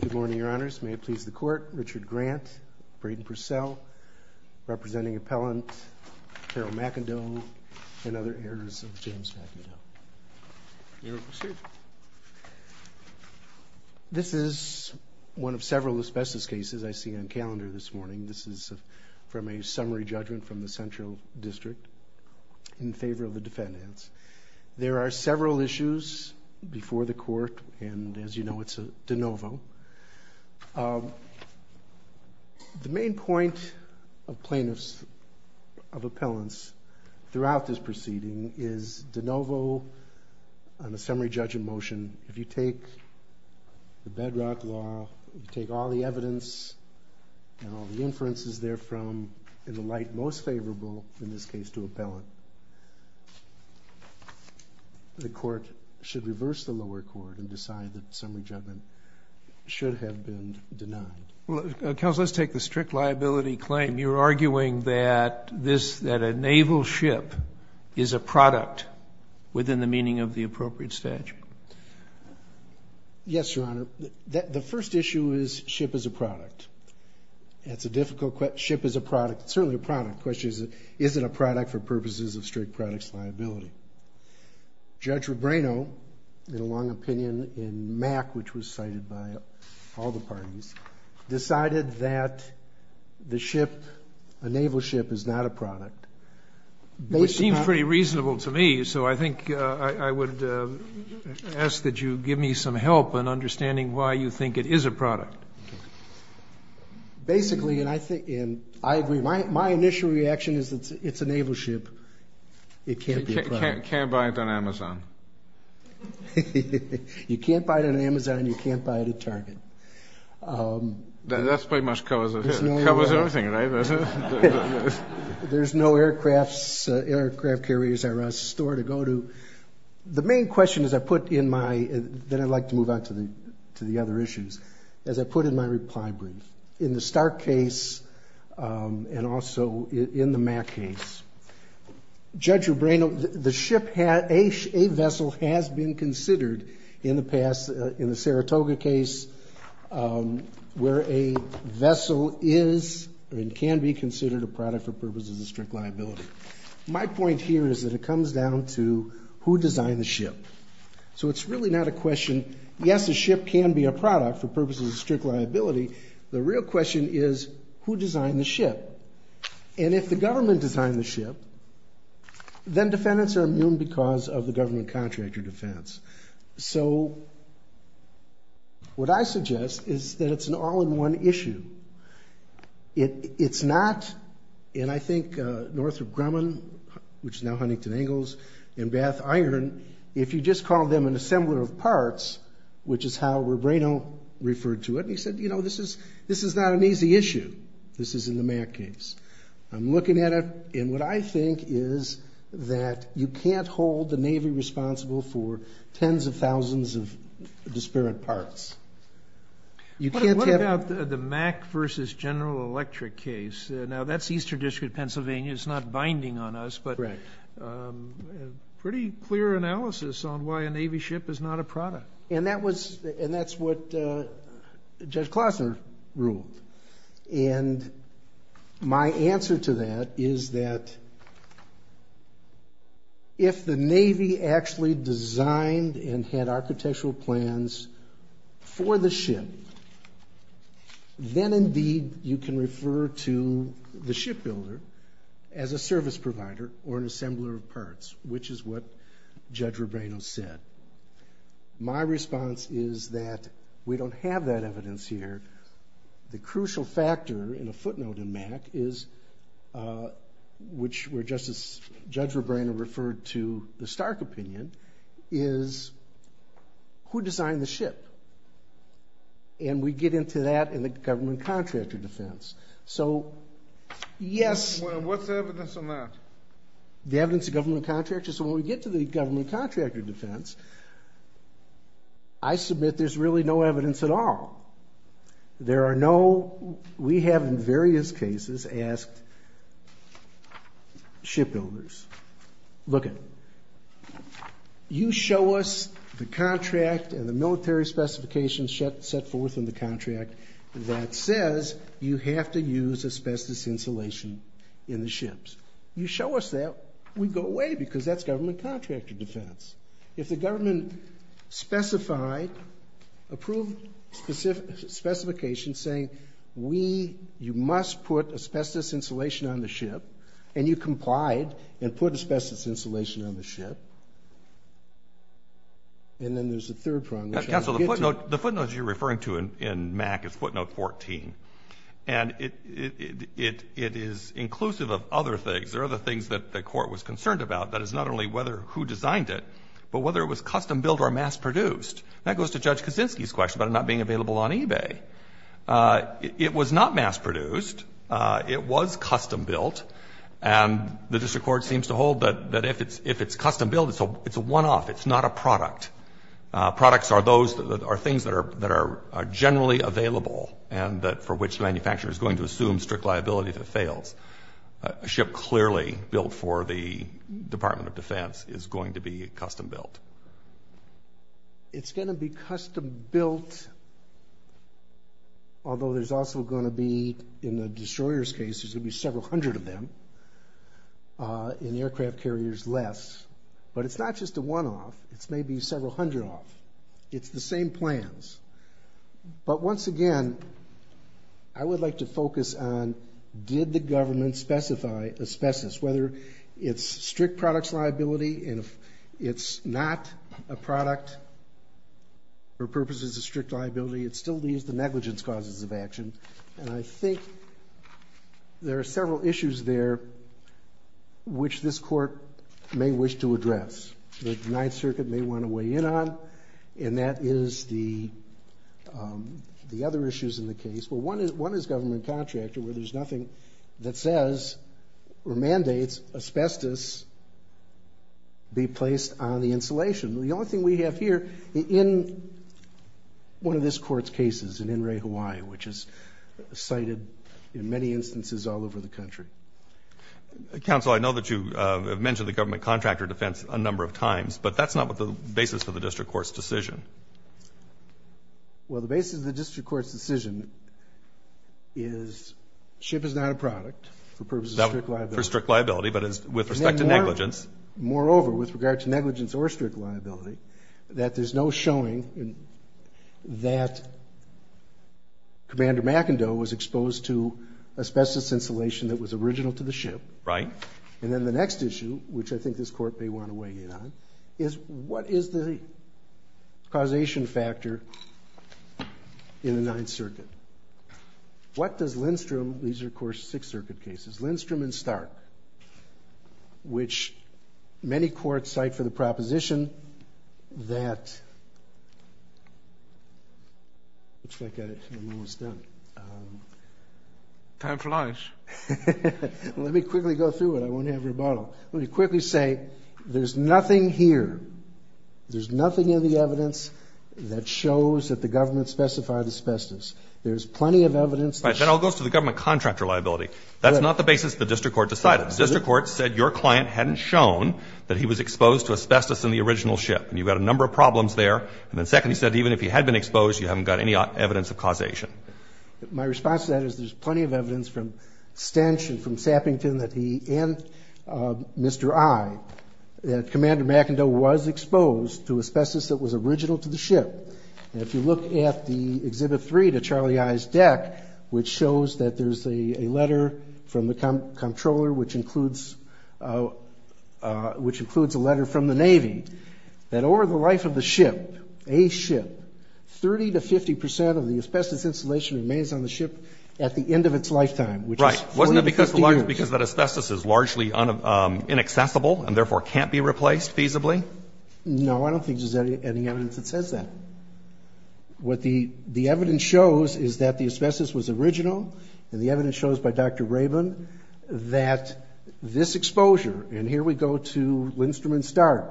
Good morning, Your Honors. May it please the Court, Richard Grant, Braden Purcell, representing appellant Carol McIndoe, and other heirs of James McIndoe. You may proceed. This is one of several asbestos cases I see on calendar this morning. This is from a summary judgment from the Central District in favor of the defendants. There are several issues before the Court, and as you know, it's a de novo. The main point of plaintiffs of appellants throughout this proceeding is de novo on a summary judgment motion. If you take the bedrock law, if you take all the evidence and all the inferences therefrom, in the light most favorable in this case to appellant, the Court should reverse the lower court and decide that summary judgment should have been denied. Counsel, let's take the strict liability claim. You're arguing that a naval ship is a product within the meaning of the appropriate statute. Yes, Your Honor. The first issue is ship is a product. It's a difficult question. Ship is a product. It's certainly a product. The question is, is it a product for purposes of strict products liability? Judge Rebrano, in a long opinion in Mack, which was cited by all the parties, decided that the ship, a naval ship, is not a product. They seem pretty reasonable to me, so I think I would ask that you give me some help in understanding why you think it is a product. Basically, and I agree, my initial reaction is it's a naval ship. It can't be a product. You can't buy it on Amazon. You can't buy it on Amazon. You can't buy it at Target. That's pretty much covers everything, right? There's no aircraft carriers or a store to go to. The main question, as I put in my, then I'd like to move on to the other issues, as I put in my reply brief, in the Stark case and also in the Mack case, Judge Rebrano, the ship, a vessel has been considered in the past, in the Saratoga case where a vessel is and can be considered a product for purposes of strict liability. My point here is that it comes down to who designed the ship. So it's really not a question, yes, a ship can be a product for purposes of strict liability. The real question is who designed the ship. And if the government designed the ship, then defendants are immune because of the government contract or defense. So what I suggest is that it's an all-in-one issue. It's not, and I think Northrop Grumman, which is now Huntington Angles, and Bath Iron, if you just call them an assembler of parts, which is how Rebrano referred to it, he said, you know, this is not an easy issue. This is in the Mack case. I'm looking at it, and what I think is that you can't hold the Navy responsible for tens of thousands of disparate parts. What about the Mack v. General Electric case? Now, that's Eastern District, Pennsylvania. It's not binding on us, but pretty clear analysis on why a Navy ship is not a product. And that's what Judge Klossner ruled. And my answer to that is that if the Navy actually designed and had architectural plans for the ship, then, indeed, you can refer to the shipbuilder as a service provider or an assembler of parts, which is what Judge Rebrano said. My response is that we don't have that evidence here. The crucial factor in a footnote in Mack is, which where Judge Rebrano referred to the Stark opinion, is who designed the ship. And we get into that in the government contractor defense. So, yes. What's the evidence on that? The evidence of government contractors. So when we get to the government contractor defense, I submit there's really no evidence at all. There are no, we have in various cases asked shipbuilders, look it, you show us the contract and the military specifications set forth in the contract that says you have to use asbestos insulation in the ships. You show us that, we go away because that's government contractor defense. If the government specified, approved specifications saying we, you must put asbestos insulation on the ship, and you complied and put asbestos insulation on the ship, and then there's a third prong. Counsel, the footnote you're referring to in Mack is footnote 14. And it is inclusive of other things. There are other things that the Court was concerned about. That is not only whether who designed it, but whether it was custom built or mass produced. That goes to Judge Kaczynski's question about it not being available on eBay. It was not mass produced. It was custom built. And the district court seems to hold that if it's custom built, it's a one-off. It's not a product. Products are things that are generally available and for which the manufacturer is going to assume strict liability if it fails. A ship clearly built for the Department of Defense is going to be custom built. It's going to be custom built, although there's also going to be, in the destroyer's case, there's going to be several hundred of them in the aircraft carriers less. But it's not just a one-off. It's maybe several hundred off. It's the same plans. But once again, I would like to focus on did the government specify a species, whether it's strict products liability and if it's not a product for purposes of strict liability, it still leaves the negligence causes of action. And I think there are several issues there which this Court may wish to address, that the Ninth Circuit may want to weigh in on, and that is the other issues in the case. Well, one is government contractor, where there's nothing that says or mandates asbestos be placed on the insulation. The only thing we have here in one of this Court's cases, in Enray, Hawaii, which is cited in many instances all over the country. Counsel, I know that you have mentioned the government contractor defense a number of times, but that's not the basis for the district court's decision. Well, the basis of the district court's decision is ship is not a product for purposes of strict liability. For strict liability, but with respect to negligence. Moreover, with regard to negligence or strict liability, that there's no showing that Commander McIndoe was exposed to asbestos insulation that was original to the ship. Right. And then the next issue, which I think this Court may want to weigh in on, is what is the causation factor in the Ninth Circuit? What does Lindstrom, these are, of course, Sixth Circuit cases, Lindstrom and Stark, which many courts cite for the proposition that, looks like I'm almost done. Time for lunch. Let me quickly go through it. I won't have rebuttal. Let me quickly say there's nothing here. There's nothing in the evidence that shows that the government specified asbestos. There's plenty of evidence. Right. Then it all goes to the government contractor liability. That's not the basis the district court decided. The district court said your client hadn't shown that he was exposed to asbestos in the original ship. And you've got a number of problems there. And then second, he said even if he had been exposed, you haven't got any evidence of causation. My response to that is there's plenty of evidence from Stench and from Sappington that he and Mr. I, that Commander McIndoe was exposed to asbestos that was original to the ship. And if you look at the Exhibit 3 to Charlie I's deck, which shows that there's a letter from the Comptroller, which includes a letter from the Navy, that over the life of the ship, a ship, 30 to 50 percent of the asbestos installation remains on the ship at the end of its lifetime, which is 40 to 50 years. Right. Wasn't that because the letter was because that asbestos is largely inaccessible and therefore can't be replaced feasibly? No. I don't think there's any evidence that says that. What the evidence shows is that the asbestos was original, and the evidence shows by Dr. Rabin that this exposure, and here we go to Lindstrom and Stark.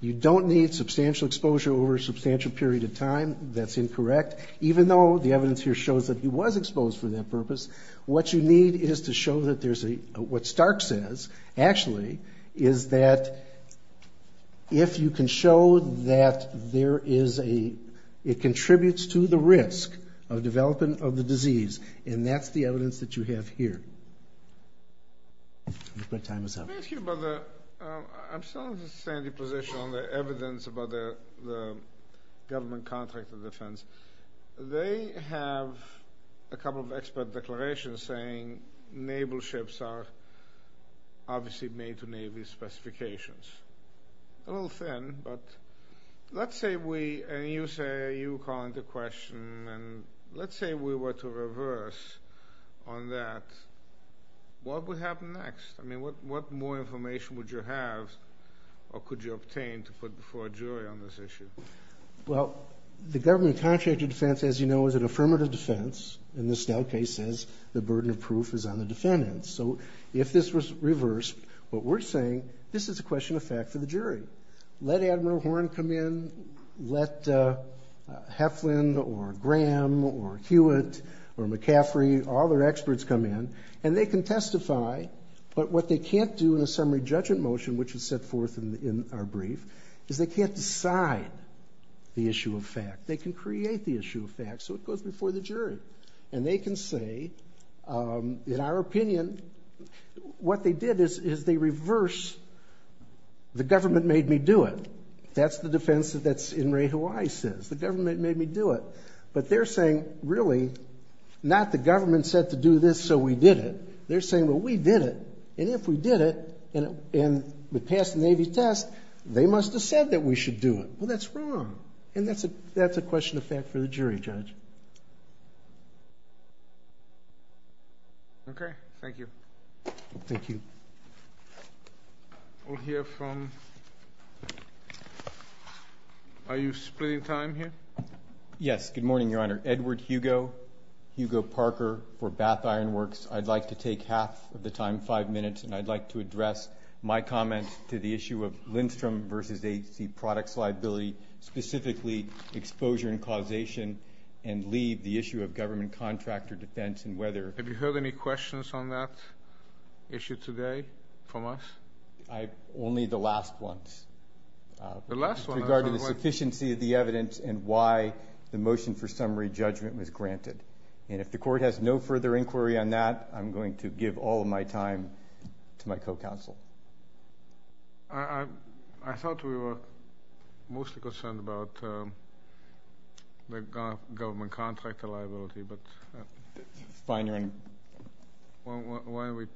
You don't need substantial exposure over a substantial period of time. That's incorrect. Even though the evidence here shows that he was exposed for that purpose, what you need is to show that there's a, what Stark says, actually, is that if you can show that there is a, it contributes to the risk of development of the disease, and that's the evidence that you have here. Your break time is up. May I ask you about the, I'm still in a sandy position on the evidence about the government contract of defense. They have a couple of expert declarations saying naval ships are obviously made to Navy specifications. A little thin, but let's say we, and you say, you call into question, and let's say we were to reverse on that, what would happen next? I mean, what more information would you have or could you obtain to put before a jury on this issue? Well, the government contract of defense, as you know, is an affirmative defense, and the Stout case says the burden of proof is on the defendants. So if this was reversed, what we're saying, this is a question of fact for the jury. Let Admiral Horn come in, let Heflin or Graham or Hewitt or McCaffrey, all their experts come in, and they can testify, but what they can't do in a summary judgment motion, which is set forth in our brief, is they can't decide the issue of fact. They can create the issue of fact, so it goes before the jury, and they can say, in our opinion, what they did is they reversed the government made me do it. That's the defense that's in Ray Hawaii says. The government made me do it. But they're saying, really, not the government said to do this, so we did it. They're saying, well, we did it, and if we did it and we passed the Navy test, they must have said that we should do it. Well, that's wrong, and that's a question of fact for the jury, Judge. Okay. Thank you. Thank you. We'll hear from ñ are you splitting time here? Yes. Good morning, Your Honor. Edward Hugo, Hugo Parker for Bath Ironworks. I'd like to take half of the time, five minutes, and I'd like to address my comment to the issue of Lindstrom v. liability, specifically exposure and causation, and leave the issue of government contractor defense and whether ñ Have you heard any questions on that issue today from us? Only the last ones. The last ones. With regard to the sufficiency of the evidence and why the motion for summary judgment was granted. And if the Court has no further inquiry on that, I'm going to give all of my time to my co-counsel. I thought we were mostly concerned about the government contractor liability. But why are we ñ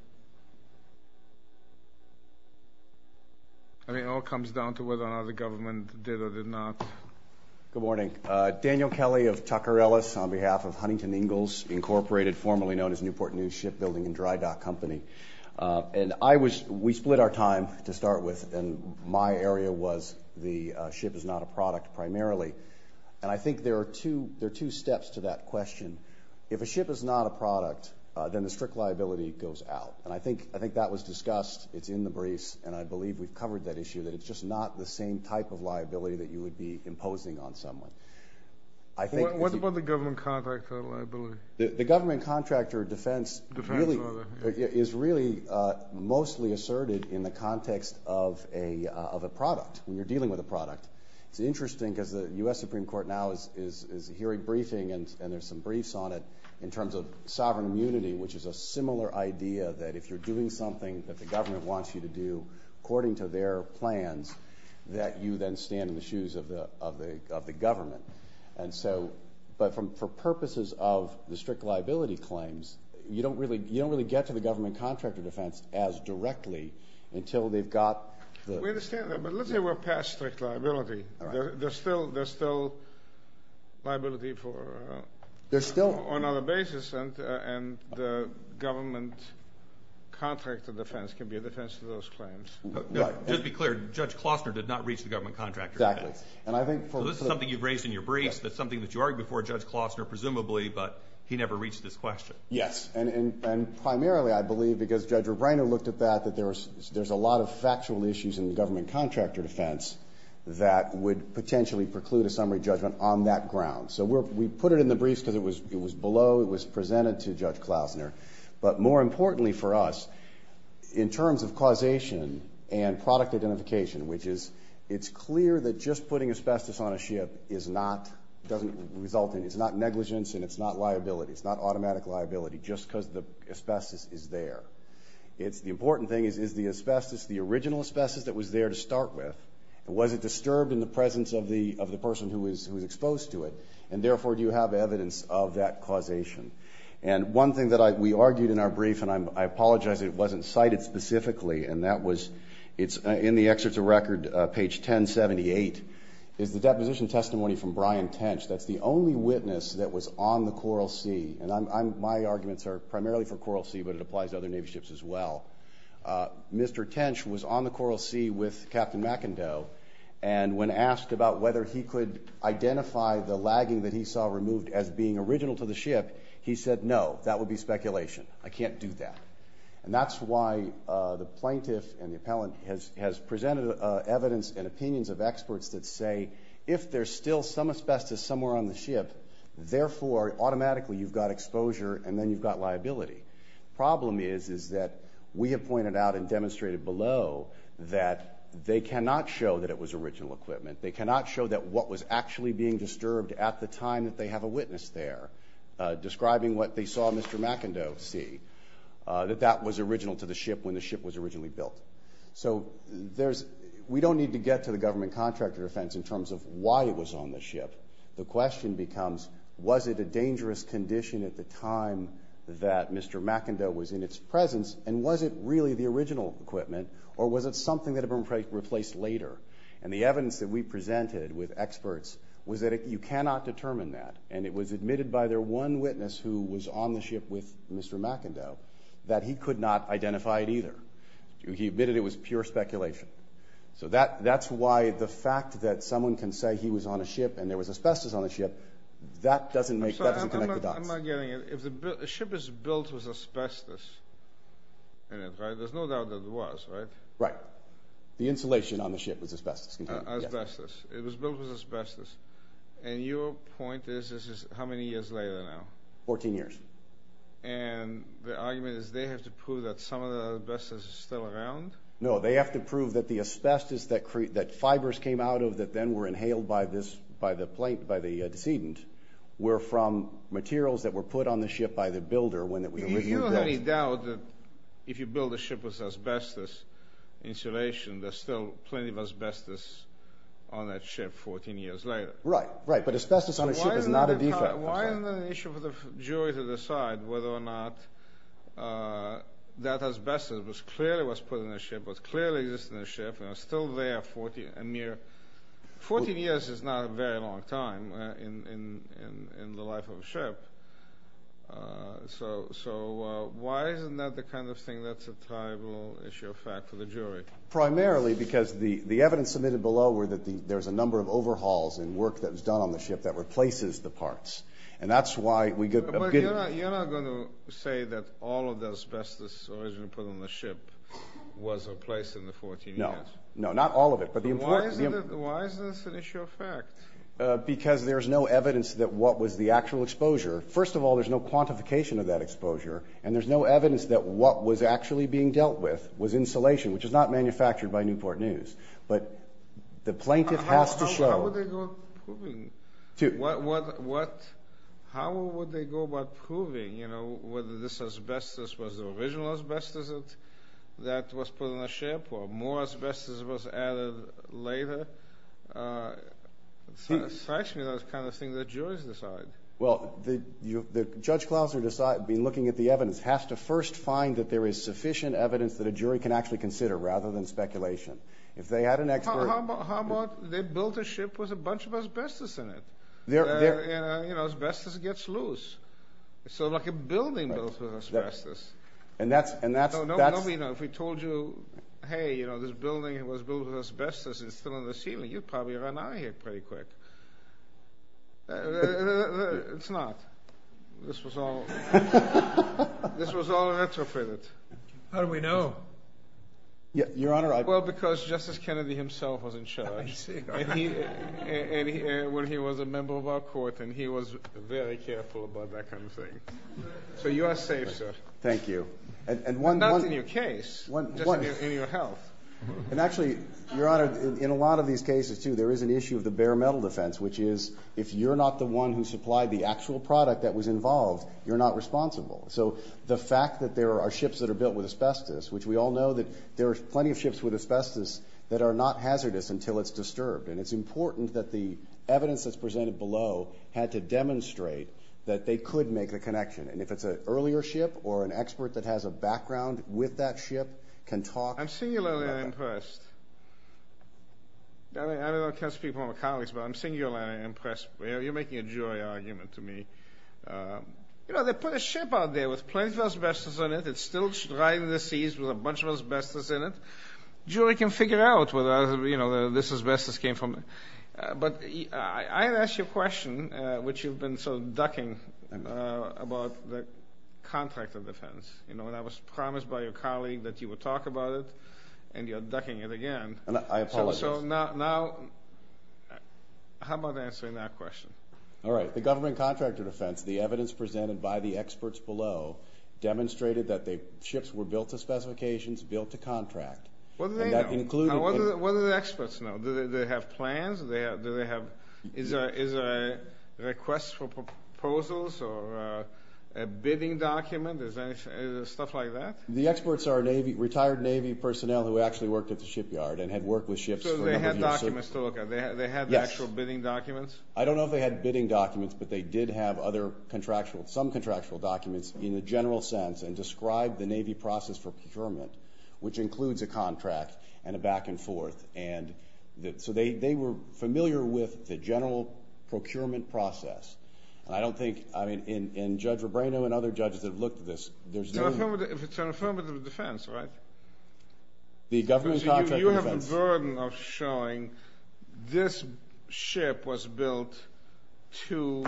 I mean, it all comes down to whether or not the government did or did not. Good morning. Daniel Kelly of Tucker Ellis on behalf of Huntington Ingalls Incorporated, formerly known as Newport News Shipbuilding and Dry Dock Company. And I was ñ we split our time to start with, and my area was the ship is not a product primarily. And I think there are two steps to that question. If a ship is not a product, then a strict liability goes out. And I think that was discussed. It's in the briefs, and I believe we've covered that issue, that it's just not the same type of liability that you would be imposing on someone. What about the government contractor liability? The government contractor defense is really mostly asserted in the context of a product, when you're dealing with a product. It's interesting because the U.S. Supreme Court now is hearing briefing, and there's some briefs on it, in terms of sovereign immunity, which is a similar idea that if you're doing something that the government wants you to do, according to their plans, that you then stand in the shoes of the government. And so ñ but for purposes of the strict liability claims, you don't really get to the government contractor defense as directly until they've got the ñ We understand that, but let's say we're past strict liability. There's still liability for ñ There's still ñ On other basis, and the government contractor defense can be a defense to those claims. Just to be clear, Judge Klostner did not reach the government contractor defense. Exactly. And I think for ñ So this is something you've raised in your briefs. That's something that you argued before Judge Klostner, presumably, but he never reached this question. Yes. And primarily, I believe, because Judge Rubino looked at that, that there's a lot of factual issues in the government contractor defense that would potentially preclude a summary judgment on that ground. So we put it in the briefs because it was below, it was presented to Judge Klostner. But more importantly for us, in terms of causation and product identification, which is it's clear that just putting asbestos on a ship is not ñ doesn't result in ñ it's not negligence and it's not liability. It's not automatic liability just because the asbestos is there. The important thing is, is the asbestos the original asbestos that was there to start with? Was it disturbed in the presence of the person who was exposed to it? And therefore, do you have evidence of that causation? And one thing that we argued in our brief, and I apologize it wasn't cited specifically, and that was ñ it's in the excerpts of record, page 1078, is the deposition testimony from Brian Tench. That's the only witness that was on the Coral Sea. And my arguments are primarily for Coral Sea, but it applies to other Navy ships as well. Mr. Tench was on the Coral Sea with Captain McIndoe, and when asked about whether he could identify the lagging that he saw removed as being original to the ship, he said no, that would be speculation. I can't do that. And that's why the plaintiff and the appellant has presented evidence and opinions of experts that say if there's still some asbestos somewhere on the ship, therefore automatically you've got exposure and then you've got liability. The problem is, is that we have pointed out and demonstrated below that they cannot show that it was original equipment. They cannot show that what was actually being disturbed at the time that they have a witness there, describing what they saw Mr. McIndoe see, that that was original to the ship when the ship was originally built. So we don't need to get to the government contractor defense in terms of why it was on the ship. The question becomes, was it a dangerous condition at the time that Mr. McIndoe was in its presence, and was it really the original equipment, or was it something that had been replaced later? And the evidence that we presented with experts was that you cannot determine that, and it was admitted by their one witness who was on the ship with Mr. McIndoe that he could not identify it either. He admitted it was pure speculation. So that's why the fact that someone can say he was on a ship and there was asbestos on the ship, that doesn't connect the dots. I'm not getting it. If the ship is built with asbestos in it, right, there's no doubt that it was, right? Right. The insulation on the ship was asbestos. Asbestos. It was built with asbestos. And your point is this is how many years later now? Fourteen years. And the argument is they have to prove that some of the asbestos is still around? No, they have to prove that the asbestos that fibers came out of that then were inhaled by the decedent were from materials that were put on the ship by the builder when we reviewed that. Do you have any doubt that if you build a ship with asbestos insulation, there's still plenty of asbestos on that ship 14 years later? Right, right. But asbestos on a ship is not a defect. Why isn't it an issue for the jury to decide whether or not that asbestos clearly was put on the ship, was clearly used on the ship, and is still there a mere 14 years is not a very long time in the life of a ship. So why isn't that the kind of thing that's a tribal issue of fact for the jury? Primarily because the evidence submitted below were that there's a number of overhauls and work that was done on the ship that replaces the parts. And that's why we get a good… But you're not going to say that all of the asbestos originally put on the ship was replaced in the 14 years? No. No, not all of it, but the important… Why isn't this an issue of fact? Because there's no evidence that what was the actual exposure. First of all, there's no quantification of that exposure, and there's no evidence that what was actually being dealt with was insulation, which is not manufactured by Newport News. But the plaintiff has to show… How would they go about proving whether this asbestos was the original asbestos that was put on the ship or more asbestos was added later? It strikes me that's the kind of thing that juries decide. Well, Judge Klausner, in looking at the evidence, has to first find that there is sufficient evidence that a jury can actually consider rather than speculation. If they had an expert… How about they built a ship with a bunch of asbestos in it? Asbestos gets loose. It's sort of like a building built with asbestos. And that's… Nobody knows. If we told you, hey, this building was built with asbestos and it's still on the ceiling, you'd probably run out of here pretty quick. It's not. This was all… This was all retrofitted. How do we know? Your Honor, I… Well, because Justice Kennedy himself was in charge. I see. And he was a member of our court, and he was very careful about that kind of thing. So you are safe, sir. Thank you. Not in your case, just in your health. And actually, Your Honor, in a lot of these cases, too, there is an issue of the bare metal defense, which is if you're not the one who supplied the actual product that was involved, you're not responsible. So the fact that there are ships that are built with asbestos, which we all know that there are plenty of ships with asbestos that are not hazardous until it's disturbed, and it's important that the evidence that's presented below had to demonstrate that they could make a connection. And if it's an earlier ship or an expert that has a background with that ship can talk… I'm singularly impressed. I don't know if I can speak for my colleagues, but I'm singularly impressed. You're making a jury argument to me. You know, they put a ship out there with plenty of asbestos in it. It's still riding the seas with a bunch of asbestos in it. A jury can figure out whether, you know, this asbestos came from… But I have asked you a question, which you've been sort of ducking, about the contract of defense. You know, and I was promised by your colleague that you would talk about it, and you're ducking it again. I apologize. So now how about answering that question? All right. The government contract of defense, the evidence presented by the experts below, demonstrated that the ships were built to specifications, built to contract. What do they know? And that included… What do the experts know? Do they have plans? Do they have… Is there a request for proposals or a bidding document? Is there stuff like that? The experts are retired Navy personnel who actually worked at the shipyard and had worked with ships for a number of years. So they had documents to look at? Yes. They had the actual bidding documents? I don't know if they had bidding documents, but they did have some contractual documents in the general sense and described the Navy process for procurement, which includes a contract and a back and forth. So they were familiar with the general procurement process. And I don't think, I mean, in Judge Rebrano and other judges that have looked at this, there's no… It's an affirmative defense, right? The government contract of defense. You have the burden of showing this ship was built to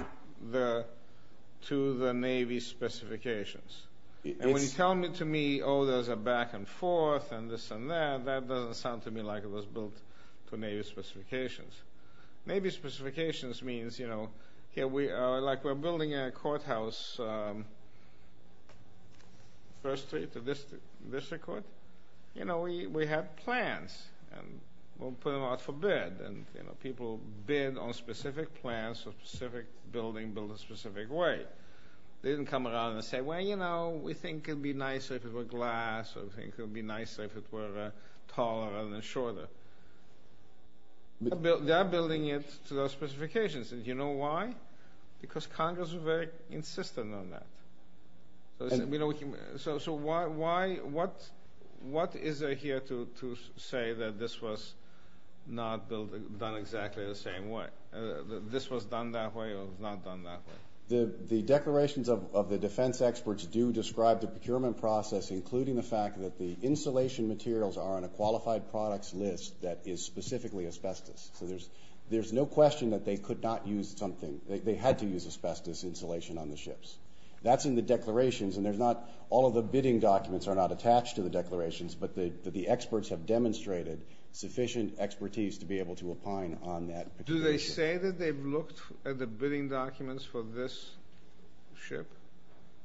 the Navy specifications. And when you tell me, oh, there's a back and forth and this and that, that doesn't sound to me like it was built to Navy specifications. Navy specifications means, you know, here we are like we're building a courthouse, first street to district court. You know, we have plans, and we'll put them out for bid, and people bid on specific plans for a specific building built a specific way. They didn't come around and say, well, you know, we think it would be nicer if it were glass or we think it would be nicer if it were taller rather than shorter. They are building it to those specifications. And do you know why? Because Congress were very insistent on that. So why, what is there here to say that this was not done exactly the same way? This was done that way or not done that way? The declarations of the defense experts do describe the procurement process, including the fact that the insulation materials are on a qualified products list that is specifically asbestos. So there's no question that they could not use something. They had to use asbestos insulation on the ships. That's in the declarations, and there's not all of the bidding documents are not attached to the declarations, but the experts have demonstrated sufficient expertise to be able to opine on that. Do they say that they've looked at the bidding documents for this ship?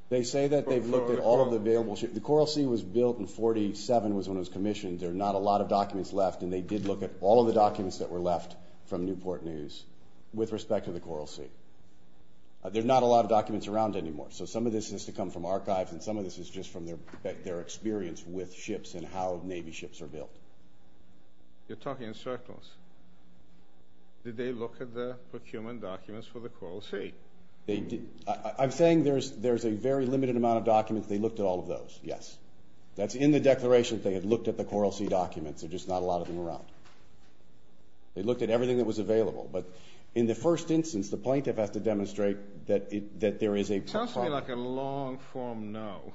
They say that they've looked at all of the available ships. The Coral Sea was built in 1947 was when it was commissioned. There are not a lot of documents left, and they did look at all of the documents that were left from Newport News with respect to the Coral Sea. There are not a lot of documents around anymore. So some of this has to come from archives, and some of this is just from their experience with ships and how Navy ships are built. You're talking in circles. Did they look at the procurement documents for the Coral Sea? I'm saying there's a very limited amount of documents. They looked at all of those, yes. That's in the declarations. They had looked at the Coral Sea documents. There's just not a lot of them around. They looked at everything that was available. But in the first instance, the plaintiff has to demonstrate that there is a problem. It sounds to me like a long-form no,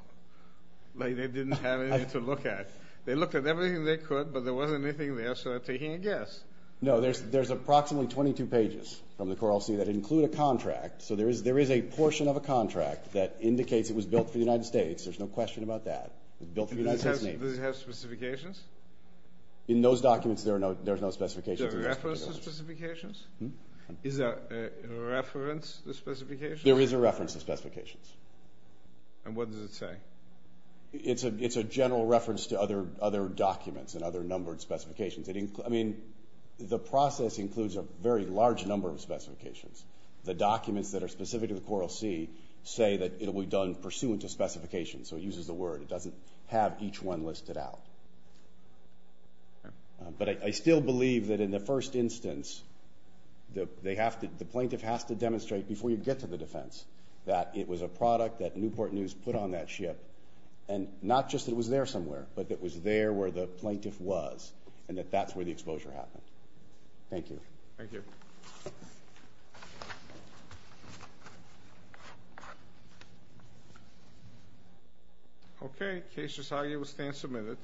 like they didn't have anything to look at. They looked at everything they could, but there wasn't anything there, so they're taking a guess. No, there's approximately 22 pages from the Coral Sea that include a contract. So there is a portion of a contract that indicates it was built for the United States. There's no question about that. It was built for the United States Navy. Does it have specifications? In those documents, there are no specifications. Is there a reference to specifications? Is there a reference to specifications? There is a reference to specifications. And what does it say? It's a general reference to other documents and other numbered specifications. I mean, the process includes a very large number of specifications. The documents that are specific to the Coral Sea say that it will be done pursuant to specifications. So it uses the word. It doesn't have each one listed out. But I still believe that in the first instance, the plaintiff has to demonstrate before you get to the defense that it was a product that Newport News put on that ship and not just that it was there somewhere, but that it was there where the plaintiff was and that that's where the exposure happened. Thank you. Thank you. Okay. Case resolved. You will stand submitted.